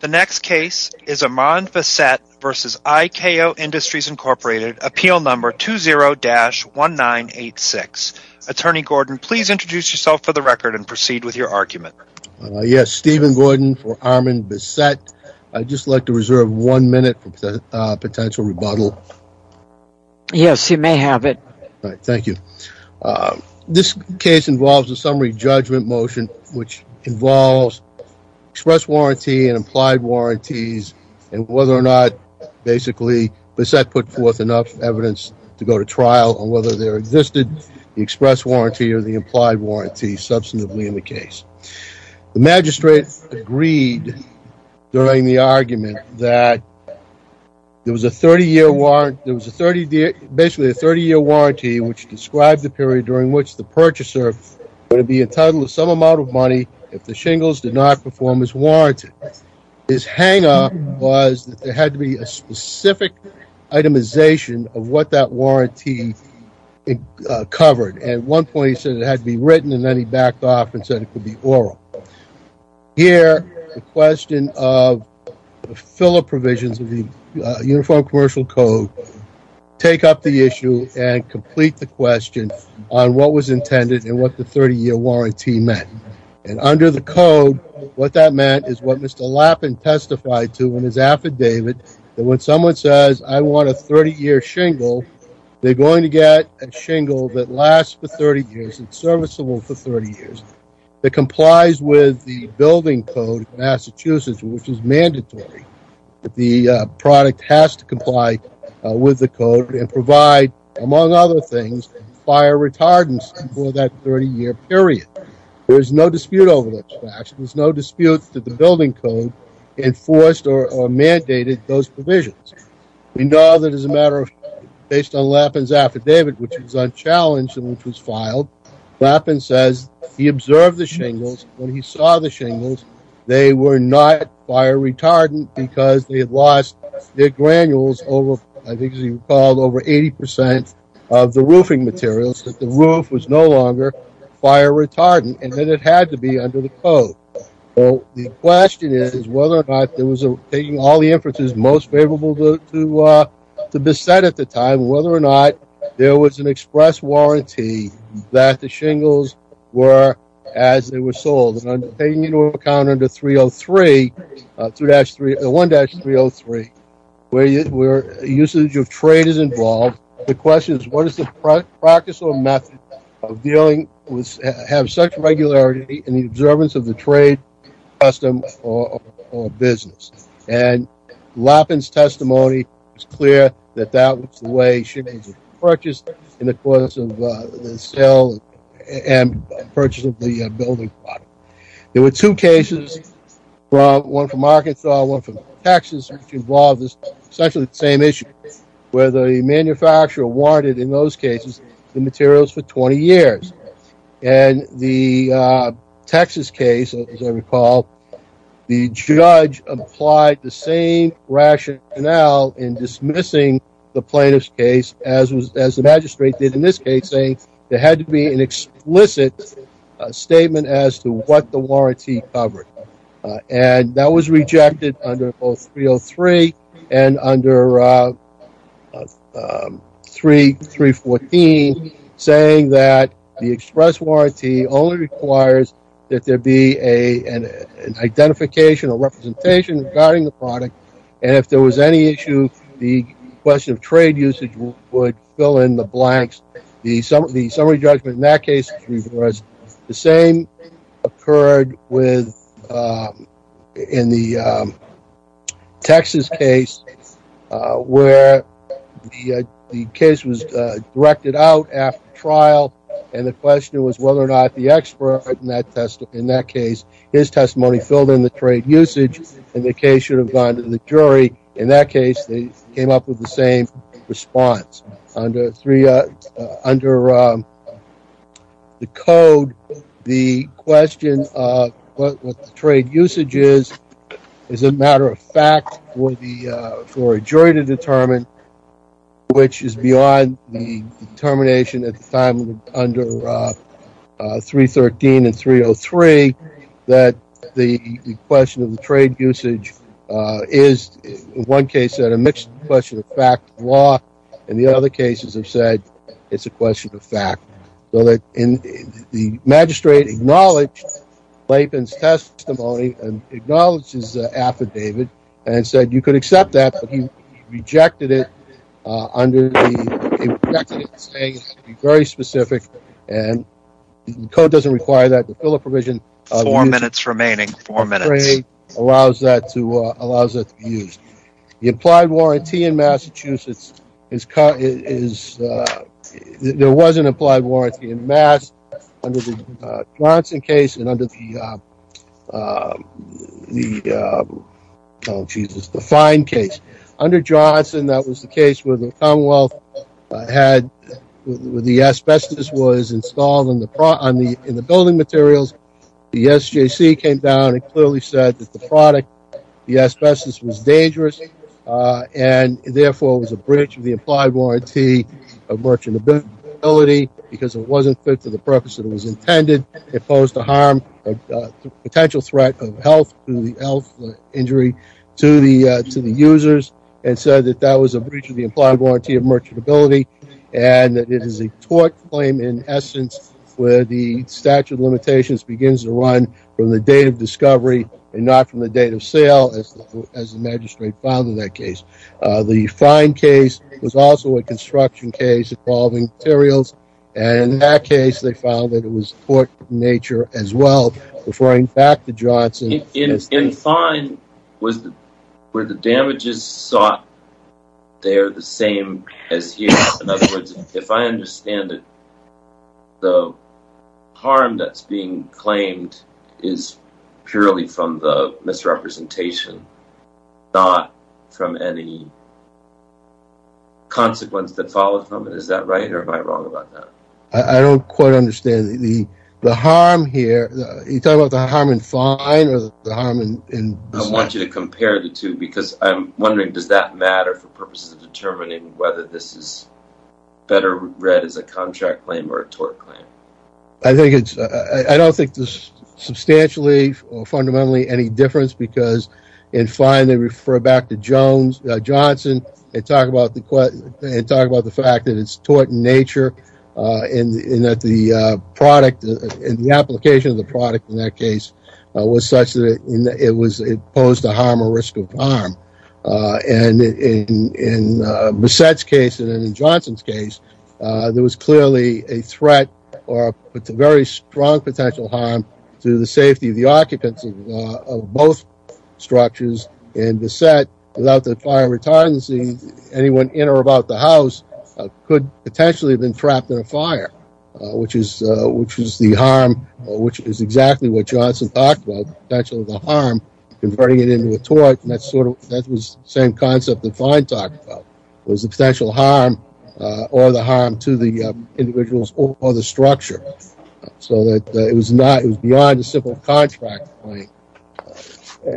The next case is Armand Bessette v. IKO Industries, Inc. Appeal number 20-1986. Attorney Gordon, please introduce yourself for the record and proceed with your argument. Yes, Stephen Gordon for Armand Bessette. I'd just like to reserve one minute for potential rebuttal. Yes, you may have it. Thank you. This case involves a summary judgment motion which involves express warranty and implied warranties and whether or not basically Bessette put forth enough evidence to go to trial on whether there existed the express warranty or the implied warranty substantively in the case. The magistrate agreed during the argument that there was a 30-year warrant, there was a 30-year, basically a 30-year warranty which described the period during which the purchaser would be entitled to some amount of money if the shingles did not perform as warranted. His hang-up was that there had to be a specific itemization of what that warranty covered. At one point he said it had to be written and then he backed off and said it could be oral. Here, the question of the filler provisions of the Uniform Commercial Code take up the issue and complete the question on what was intended and what the 30-year warranty meant. Under the code, what that meant is what Mr. Lappin testified to in his affidavit that when someone says I want a 30-year shingle, they're going to get a shingle that lasts for 30 years and is serviceable for 30 years, that complies with the building code of Massachusetts, which is mandatory. The product has to comply with the code and provide, among other things, fire retardants for that 30-year period. There is no dispute over this fact. There's no dispute that the building code enforced or mandated those provisions. We know that as a matter of, based on Lappin's affidavit, which was unchallenged and which was filed, Lappin says he observed the shingles. When he saw the shingles, they were not fire retardant because they had lost their granules over, I think as you recall, over 80% of the roofing materials, that the roof was no longer fire retardant and that it had to be under the code. So the question is whether or not there was a, taking all the inferences most favorable to beset at the time, whether or not there was an express warranty that the shingles were as they were sold. Taking into account under 303, 1-303, where usage of trade is involved. The question is, what is the practice or method of dealing with, have such regularity in the observance of the trade, custom, or business? And Lappin's testimony is clear that that was the way shingles were purchased in the course of the sale and purchase of the building product. There were two cases, one from Arkansas, one from Texas, which involved essentially the same issue, where the manufacturer warranted, in those cases, the materials for 20 years. And the Texas case, as I recall, the judge applied the same rationale in dismissing the plaintiff's case, as the magistrate did in this case, saying there had to be an explicit statement as to what the warranty covered. And that was rejected under both 303 and under 314, saying that the express warranty only requires that there be an identification or representation regarding the product. And if there was any issue, the question of trade usage would fill in the blanks. The summary judgment in that case was reversed. The same occurred in the Texas case, where the case was directed out after trial, and the question was whether or not the expert in that case, his testimony, filled in the trade usage, and the case should have gone to the jury. In that case, they came up with the same response. Under the code, the question of what the trade usage is, is a matter of fact for a jury to determine, which is beyond the determination at the time under 313 and 303, that the question of the trade usage is, in one case, a mixed question of fact law. In the other cases, they've said it's a question of fact. So that the magistrate acknowledged Layton's testimony and acknowledged his affidavit and said you could accept that, but he rejected it under the very specific. And the code doesn't require that. Four minutes remaining. Four minutes. Allows that to be used. The implied warranty in Massachusetts is, there was an implied warranty in Mass under the Johnson case and under the, oh, Jesus, the Fine case. Under Johnson, that was the case where the Commonwealth had, where the asbestos was installed in the building materials. The SJC came down and clearly said that the product, the asbestos was dangerous, and therefore was a breach of the implied warranty of merchantability because it wasn't fit for the purpose that it was intended. It posed a harm, a potential threat of health, health injury to the users, and said that that was a breach of the implied warranty of merchantability. And that it is a tort claim in essence where the statute of limitations begins to run from the date of discovery and not from the date of sale, as the magistrate found in that case. The Fine case was also a construction case involving materials. And in that case, they found that it was tort in nature as well, referring back to Johnson. In Fine, were the damages sought, they are the same as here? In other words, if I understand it, the harm that's being claimed is purely from the misrepresentation, not from any consequence that followed from it. Is that right, or am I wrong about that? I don't quite understand. The harm here, are you talking about the harm in Fine or the harm in this? I want you to compare the two because I'm wondering, does that matter for purposes of determining whether this is better read as a contract claim or a tort claim? I don't think there's substantially or fundamentally any difference because in Fine, they refer back to Johnson and talk about the fact that it's tort in nature and that the application of the product in that case was such that it posed a harm or risk of harm. And in Bessette's case and in Johnson's case, there was clearly a threat or a very strong potential harm to the safety of the occupants of both structures. In Bessette, without the Fire and Retardancy, anyone in or about the house could potentially have been trapped in a fire, which is the harm, which is exactly what Johnson talked about, the potential of the harm, converting it into a tort. And that was the same concept that Fine talked about, was the potential harm or the harm to the individuals or the structure. So it was beyond a simple contract claim.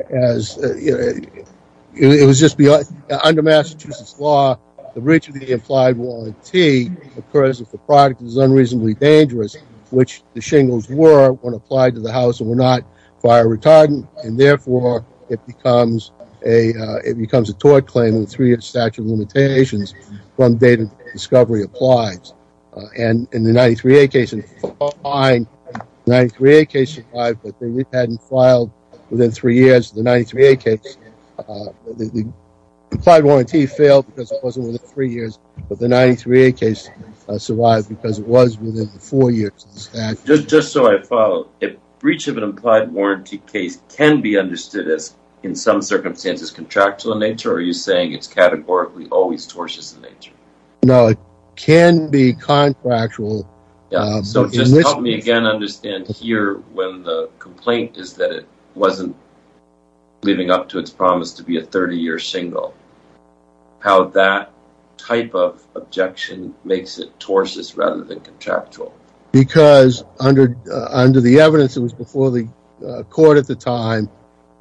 As it was just beyond under Massachusetts law, the reach of the implied warranty occurs if the product is unreasonably dangerous, which the shingles were when applied to the house and were not fire retardant. And therefore, it becomes a tort claim with three years statute of limitations from date of discovery applies. And in the 93A case in Fine, the 93A case survived, but they hadn't filed within three years of the 93A case. The implied warranty failed because it wasn't within three years, but the 93A case survived because it was within four years of the statute. Just so I follow, if breach of an implied warranty case can be understood as, in some circumstances, contractual in nature, are you saying it's categorically always tortious in nature? No, it can be contractual. So just help me again understand here when the complaint is that it wasn't living up to its promise to be a 30-year shingle, how that type of objection makes it tortious rather than contractual. Because under the evidence that was before the court at the time,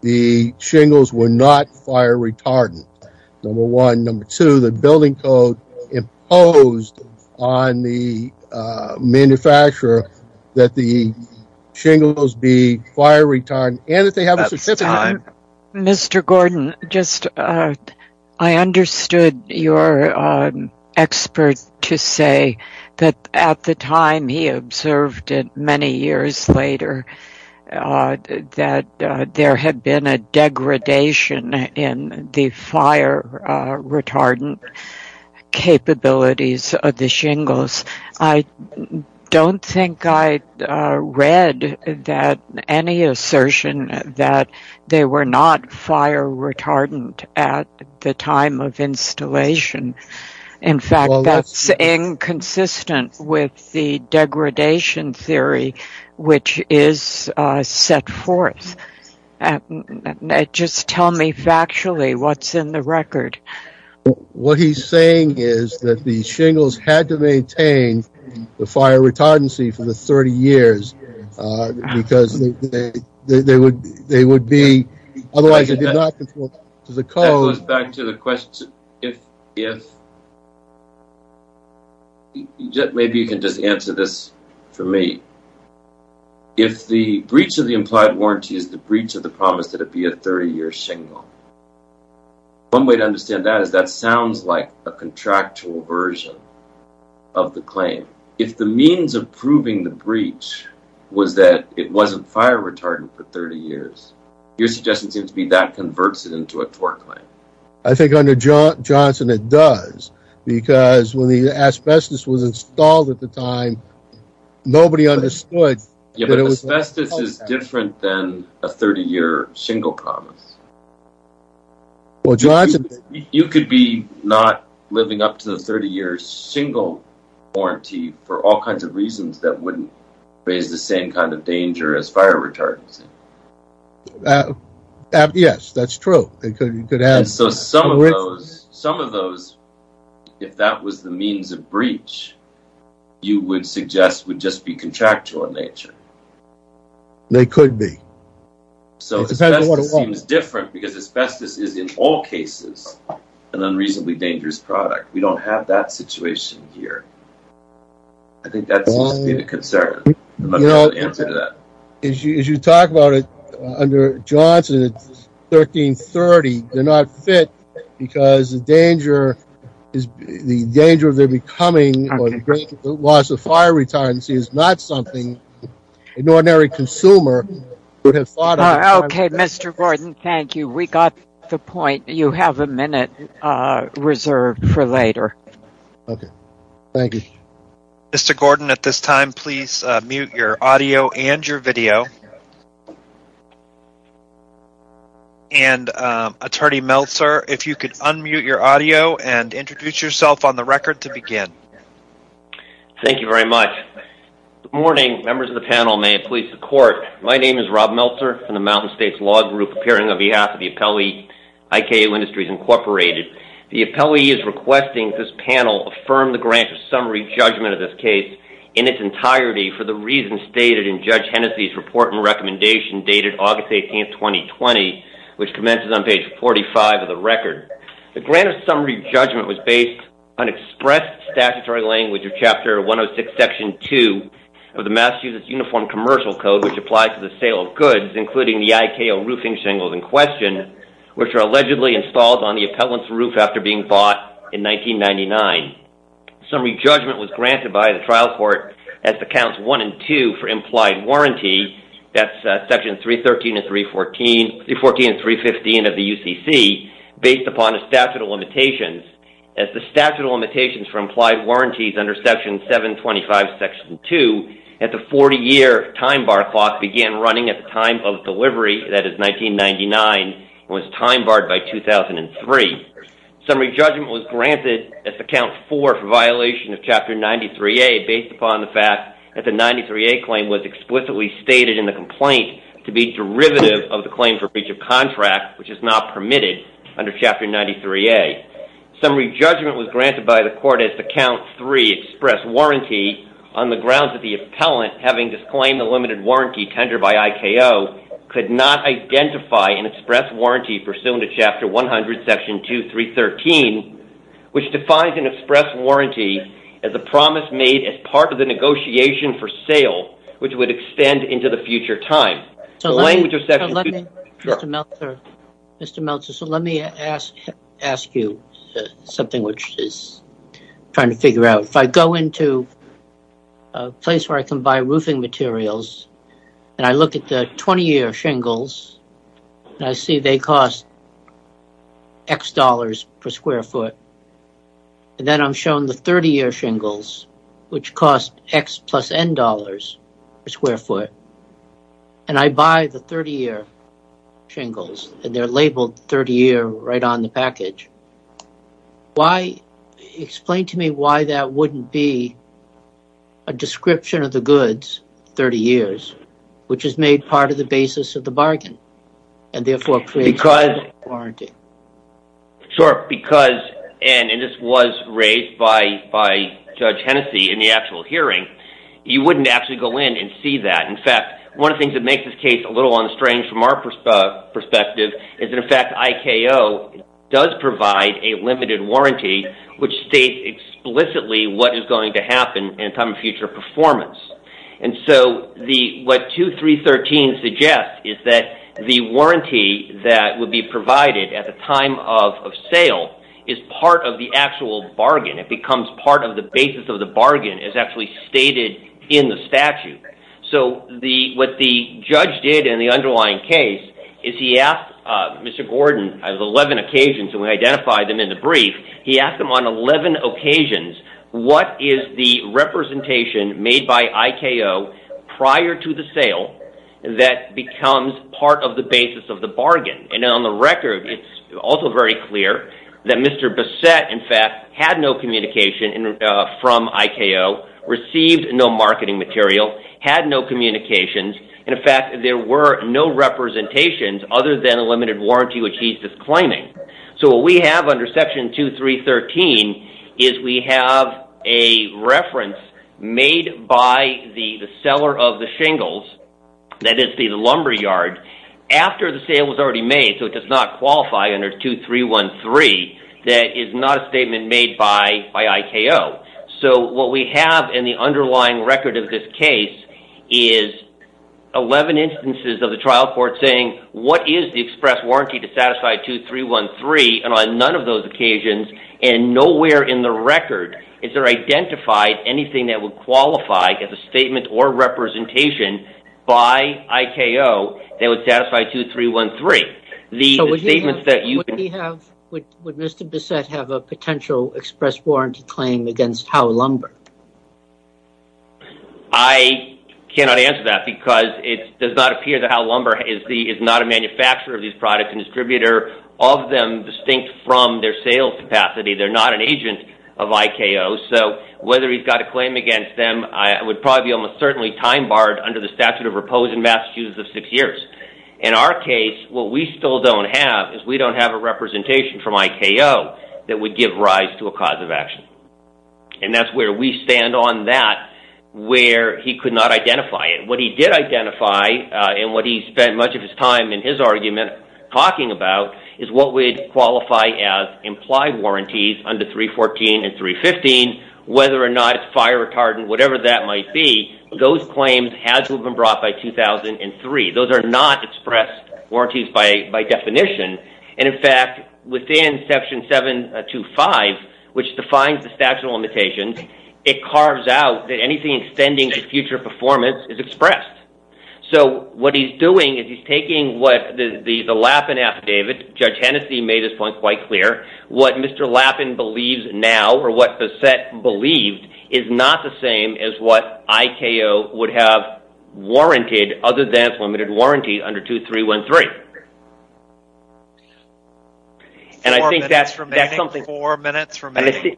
the shingles were not fire retardant, number one. Manufacturer, that the shingles be fire retardant, and that they have a certificate. Mr. Gordon, I understood your expert to say that at the time he observed it many years later, that there had been a degradation in the fire retardant capabilities of the shingles. I don't think I read that any assertion that they were not fire retardant at the time of installation. In fact, that's inconsistent with the degradation theory, which is set forth. Just tell me factually what's in the record. What he's saying is that the shingles had to maintain the fire retardancy for the 30 years, because they would be, otherwise it did not conform to the code. That goes back to the question, if, maybe you can just answer this for me. If the breach of the implied warranty is the breach of the promise that it be a 30-year shingle. One way to understand that is that sounds like a contractual version of the claim. If the means of proving the breach was that it wasn't fire retardant for 30 years, your suggestion seems to be that converts it into a tort claim. I think under Johnson it does, because when the asbestos was installed at the time, nobody understood that it was- Yeah, but asbestos is different than a 30-year shingle promise. Well, Johnson- You could be not living up to the 30-year shingle warranty for all kinds of reasons that wouldn't raise the same kind of danger as fire retardancy. Yes, that's true. So some of those, if that was the means of breach, you would suggest would just be contractual in nature. They could be. So asbestos seems different because asbestos is in all cases an unreasonably dangerous product. We don't have that situation here. I think that seems to be the concern. I don't know the answer to that. As you talk about it, under Johnson, it's 1330. They're not fit because the danger of there becoming or loss of fire retardancy is not something an ordinary consumer would have thought- Okay, Mr. Gordon, thank you. We got the point. You have a minute reserved for later. Okay, thank you. Mr. Gordon, at this time, please mute your audio and your video. And Attorney Meltzer, if you could unmute your audio and introduce yourself on the record to begin. Thank you very much. Good morning, members of the panel. May it please the court. My name is Rob Meltzer from the Mountain States Law Group, appearing on behalf of the appellee, IKO Industries Incorporated. The appellee is requesting this panel affirm the grant of summary judgment of this case in its entirety for the reasons stated in Judge Hennessey's report and recommendation dated August 18th, 2020, which commences on page 45 of the record. The grant of summary judgment was based on expressed statutory language of Chapter 106, Section 2 of the Massachusetts Uniform Commercial Code, which applies to the sale of goods, including the IKO roofing shingles in question, which are allegedly installed on the appellant's roof after being bought in 1999. Summary judgment was granted by the trial court as the counts 1 and 2 for implied warranty, that's Section 313 and 314, 314 and 315 of the UCC, based upon a statute of limitations. As the statute of limitations for implied warranties under Section 725, Section 2, at the 40-year time bar clock began running at the time of delivery, that is 1999, was time barred by 2003. Summary judgment was granted at the count 4 for violation of Chapter 93A, based upon the fact that the 93A claim was explicitly stated in the complaint to be derivative of the claim for breach of contract, which is not permitted under Chapter 93A. Summary judgment was granted by the court as the count 3, express warranty, on the grounds that the appellant, having disclaimed the limited warranty tendered by IKO, could not identify an express warranty pursuant to Chapter 100, Section 2, 313, which defines an express warranty as a promise made as part of the negotiation for sale, which would extend into the future time. So let me, Mr. Meltzer, so let me ask you something which is trying to figure out. If I go into a place where I can buy roofing materials, and I look at the 20-year shingles, and I see they cost X dollars per square foot, and then I'm shown the 30-year shingles, which cost X plus N dollars per square foot, and I buy the 30-year shingles, and they're labeled 30-year right on the package. Why, explain to me why that wouldn't be a description of the goods, 30 years, which is made part of the basis of the bargain, and therefore creates warranty. Sure, because, and this was raised by Judge Hennessey in the actual hearing, you wouldn't actually go in and see that. In fact, one of the things that makes this case a little unstrange from our perspective is that, in fact, IKO does provide a limited warranty, which states explicitly what is going to happen in time of future performance. And so, what 2313 suggests is that the warranty that would be provided at the time of sale is part of the actual bargain. It becomes part of the basis of the bargain, as actually stated in the statute. So, what the judge did in the underlying case is he asked Mr. Gordon, on 11 occasions, and we identified them in the brief, he asked him on 11 occasions, what is the representation made by IKO prior to the sale that becomes part of the basis of the bargain. And on the record, it's also very clear that Mr. Bassett, in fact, had no communication from IKO, received no marketing material, had no communications. In fact, there were no representations other than a limited warranty, which he's disclaiming. So, what we have under Section 2313 is we have a reference made by the seller of the shingles, that is the lumberyard, after the sale was already made, so it does not qualify under 2313, that is not a statement made by IKO. So, what we have in the underlying record of this case is 11 instances of the trial court saying, what is the express warranty to satisfy 2313, and on none of those occasions, and nowhere in the record is there identified anything that would qualify as a statement or representation by IKO that would satisfy 2313. So, would Mr. Bassett have a potential express warranty claim against Howe Lumber? I cannot answer that because it does not appear that Howe Lumber is not a manufacturer of these products, a distributor of them distinct from their sales capacity. They're not an agent of IKO. So, whether he's got a claim against them, I would probably almost certainly time barred under the statute of repose in Massachusetts of six years. In our case, what we still don't have is we don't have a representation from IKO that would give rise to a cause of action. And that's where we stand on that, where he could not identify it. What he did identify, and what he spent much of his time in his argument talking about, is what would qualify as implied warranties under 314 and 315, whether or not it's fire retardant, whatever that might be, those claims had to have been brought by 2003. Those are not expressed warranties by definition. And in fact, within section 725, which defines the statute of limitations, it carves out that anything extending to future performance is expressed. So, what he's doing is he's taking what the Lappin affidavit, Judge Hennessey made his point quite clear, what Mr. Lappin believes now, or what the set believed, is not the same as what IKO would have warranted other than limited warranty under 2313. Four minutes remaining. And I think that's something... Four minutes remaining.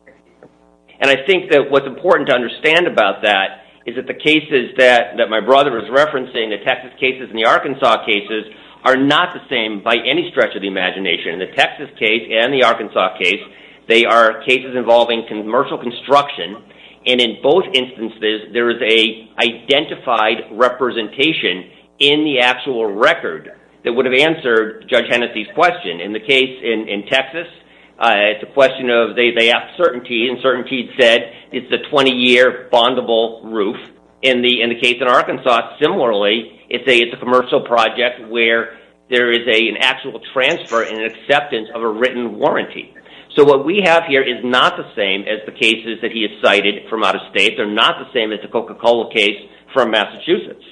And I think that what's important to understand about that is that the cases that my brother is referencing, the Texas cases and the Arkansas cases, are not the same by any stretch of the imagination. The Texas case and the Arkansas case, they are cases involving commercial construction. And in both instances, there is a identified representation in the actual record that would answer Judge Hennessey's question. In the case in Texas, it's a question of... They asked certainty, and certainty said it's a 20-year bondable roof. In the case in Arkansas, similarly, it's a commercial project where there is an actual transfer and an acceptance of a written warranty. So, what we have here is not the same as the cases that he has cited from out of state. They're not the same as the Coca-Cola case from Massachusetts.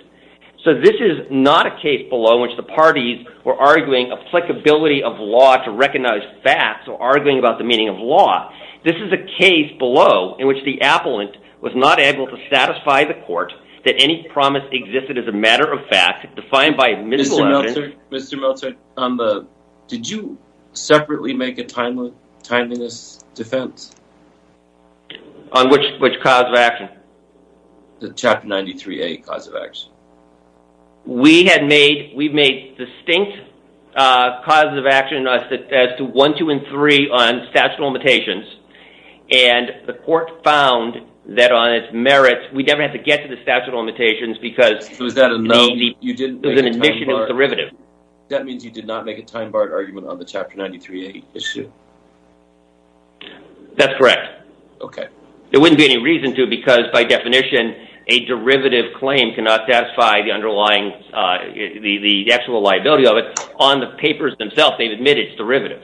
So, this is not a case below which the parties were arguing applicability of law to recognize facts or arguing about the meaning of law. This is a case below in which the appellant was not able to satisfy the court that any promise existed as a matter of fact defined by... Mr. Meltzer, did you separately make a timeliness defense? On which cause of action? The Chapter 93A cause of action. We had made... We made distinct causes of action as to 1, 2, and 3 on statute of limitations. And the court found that on its merits, we never had to get to the statute of limitations because... Was that a no? You didn't make a time-barred... It was an initial derivative. That means you did not make a time-barred argument on the Chapter 93A issue? That's correct. Okay. There wouldn't be any reason to because, by definition, a derivative claim cannot satisfy the underlying... The actual liability of it on the papers themselves. They've admitted it's derivative.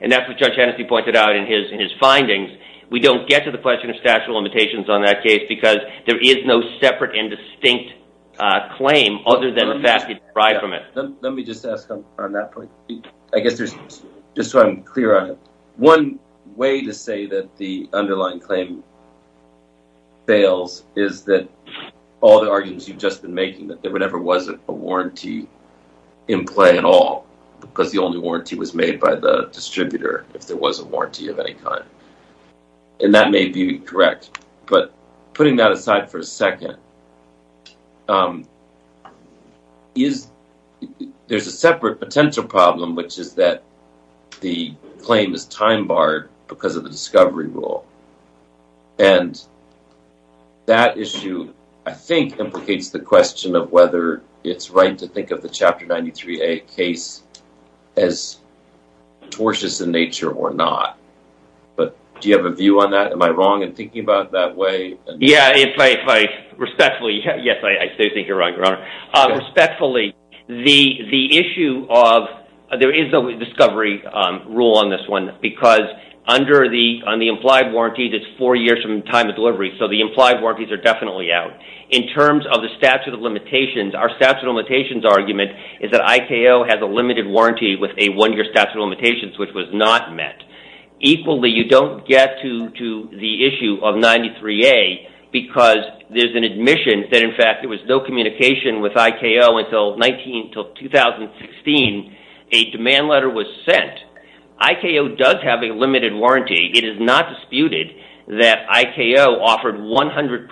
And that's what Judge Hennessey pointed out in his findings. We don't get to the question of statute of limitations on that case because there is no separate and distinct claim other than the fact that you derive from it. Let me just ask on that point. I guess there's... Just so I'm clear on it. One way to say that the underlying claim fails is that all the arguments you've just been making, that there never was a warranty in play at all because the only warranty was made by the distributor if there was a warranty of any kind. And that may be correct. But putting that aside for a second, there's a separate potential problem, which is that the claim is time barred because of the discovery rule. And that issue, I think, implicates the question of whether it's right to think of the Chapter 93A case as tortious in nature or not. But do you have a view on that? Am I wrong in thinking about it that way? Yeah, if I respectfully... Yes, I do think you're right, Your Honor. Respectfully, the issue of... There is a discovery rule on this one because on the implied warranty, it's four years from the time of delivery, so the implied warranties are definitely out. In terms of the statute of limitations, our statute of limitations argument is that IKO has a limited warranty with a one-year statute of limitations, which was not met. Equally, you don't get to the issue of 93A because there's an admission that, in fact, there was no communication with IKO until 2016, a demand letter was sent. IKO does have a limited warranty. It is not disputed that IKO offered 100%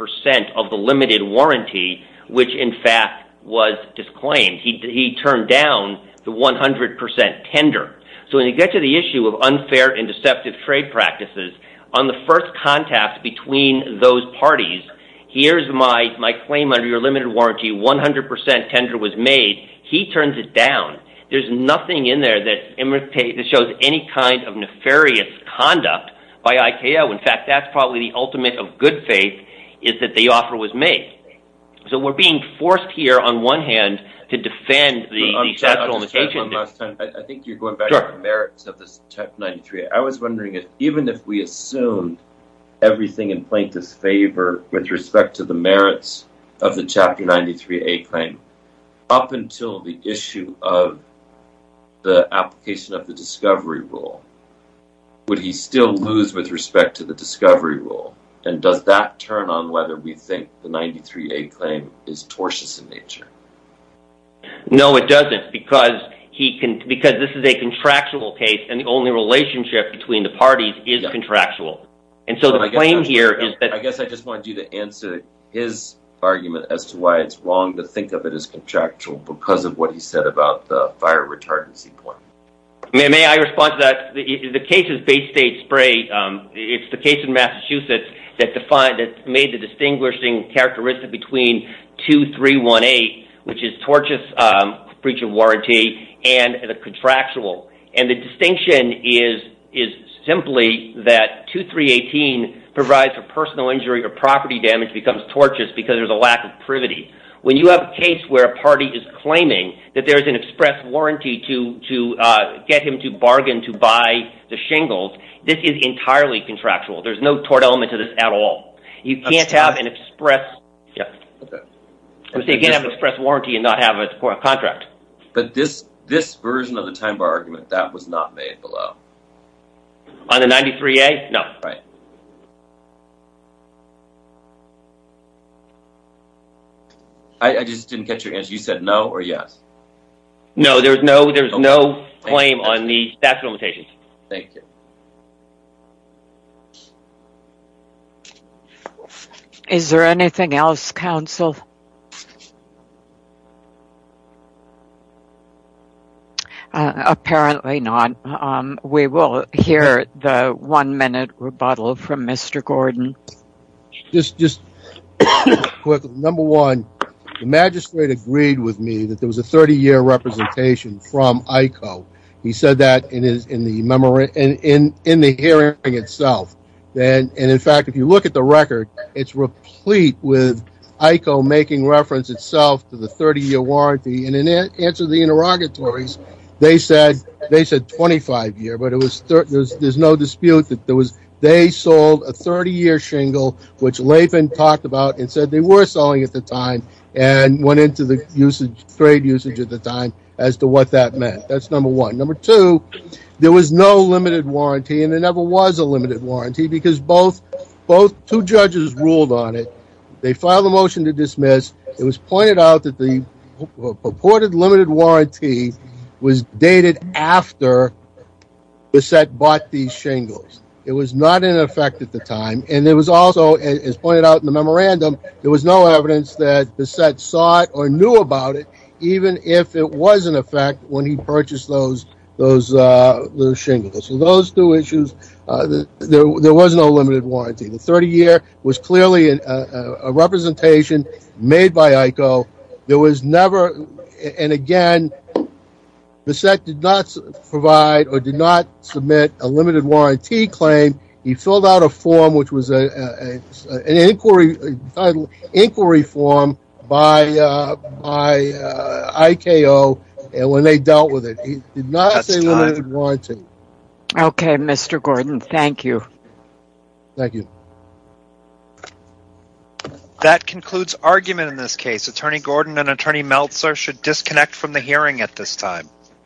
of the limited warranty, which, in fact, was disclaimed. He turned down the 100% tender. So when you get to the issue of unfair and deceptive trade practices, on the first contact between those parties, here's my claim under your limited warranty, 100% tender was made. He turns it down. There's nothing in there that shows any kind of nefarious conduct by IKO. In fact, that's probably the ultimate of good faith, is that the offer was made. So we're being forced here, on one hand, to defend the statute of limitations. I think you're going back to the merits of this 93A. I was wondering, even if we assume everything in plaintiff's favor with respect to the merits of the Chapter 93A claim, up until the issue of the application of the discovery rule, would he still lose with respect to the discovery rule? And does that turn on whether we think the 93A claim is tortious in nature? No, it doesn't, because this is a contractual case, and the only relationship between the parties is contractual. And so the claim here is that... I guess I just wanted you to answer his argument as to why it's wrong to think of it as contractual because of what he said about the fire retardancy point. May I respond to that? The case of Baystate Spray, it's the case in Massachusetts that made the distinguishing characteristic between 2318, which is tortious breach of warranty, and the contractual. And the distinction is simply that 2318 provides for personal injury or property damage becomes tortious because there's a lack of privity. When you have a case where a party is claiming that there is an express warranty to get him to bargain to buy the shingles, this is entirely contractual. There's no tort element to this at all. You can't have an express... They can't have an express warranty and not have a contract. But this version of the time bar argument, that was not made below. On the 93A? No. I just didn't get your answer. You said no or yes? No, there's no claim on the statute of limitations. Thank you. Is there anything else, counsel? Apparently not. We will hear the one-minute rebuttal from Mr. Gordon. Just real quick. Number one, the magistrate agreed with me that there was a 30-year representation from ICO. He said that in the hearing itself. And in fact, if you look at the record, it's replete with ICO making reference itself to the 30-year warranty. And in answer to the interrogatories, they said 25-year, but there's no dispute that they sold a 30-year shingle, which Laban talked about and said they were selling at the time and went into the trade usage at the time as to what that meant. That's number one. Number two, there was no limited warranty, and there never was a limited warranty, because both two judges ruled on it. They filed a motion to dismiss. It was pointed out that the purported limited warranty was dated after Bassett bought these shingles. It was not in effect at the time. And it was also, as pointed out in the memorandum, there was no evidence that Bassett saw it or purchased those shingles. So those two issues, there was no limited warranty. The 30-year was clearly a representation made by ICO. There was never, and again, Bassett did not provide or did not submit a limited warranty claim. He filled out a form, which was an inquiry form by ICO, and when they dealt with it, he did not say limited warranty. Okay, Mr. Gordon, thank you. Thank you. That concludes argument in this case. Attorney Gordon and Attorney Meltzer should disconnect from the hearing at this time.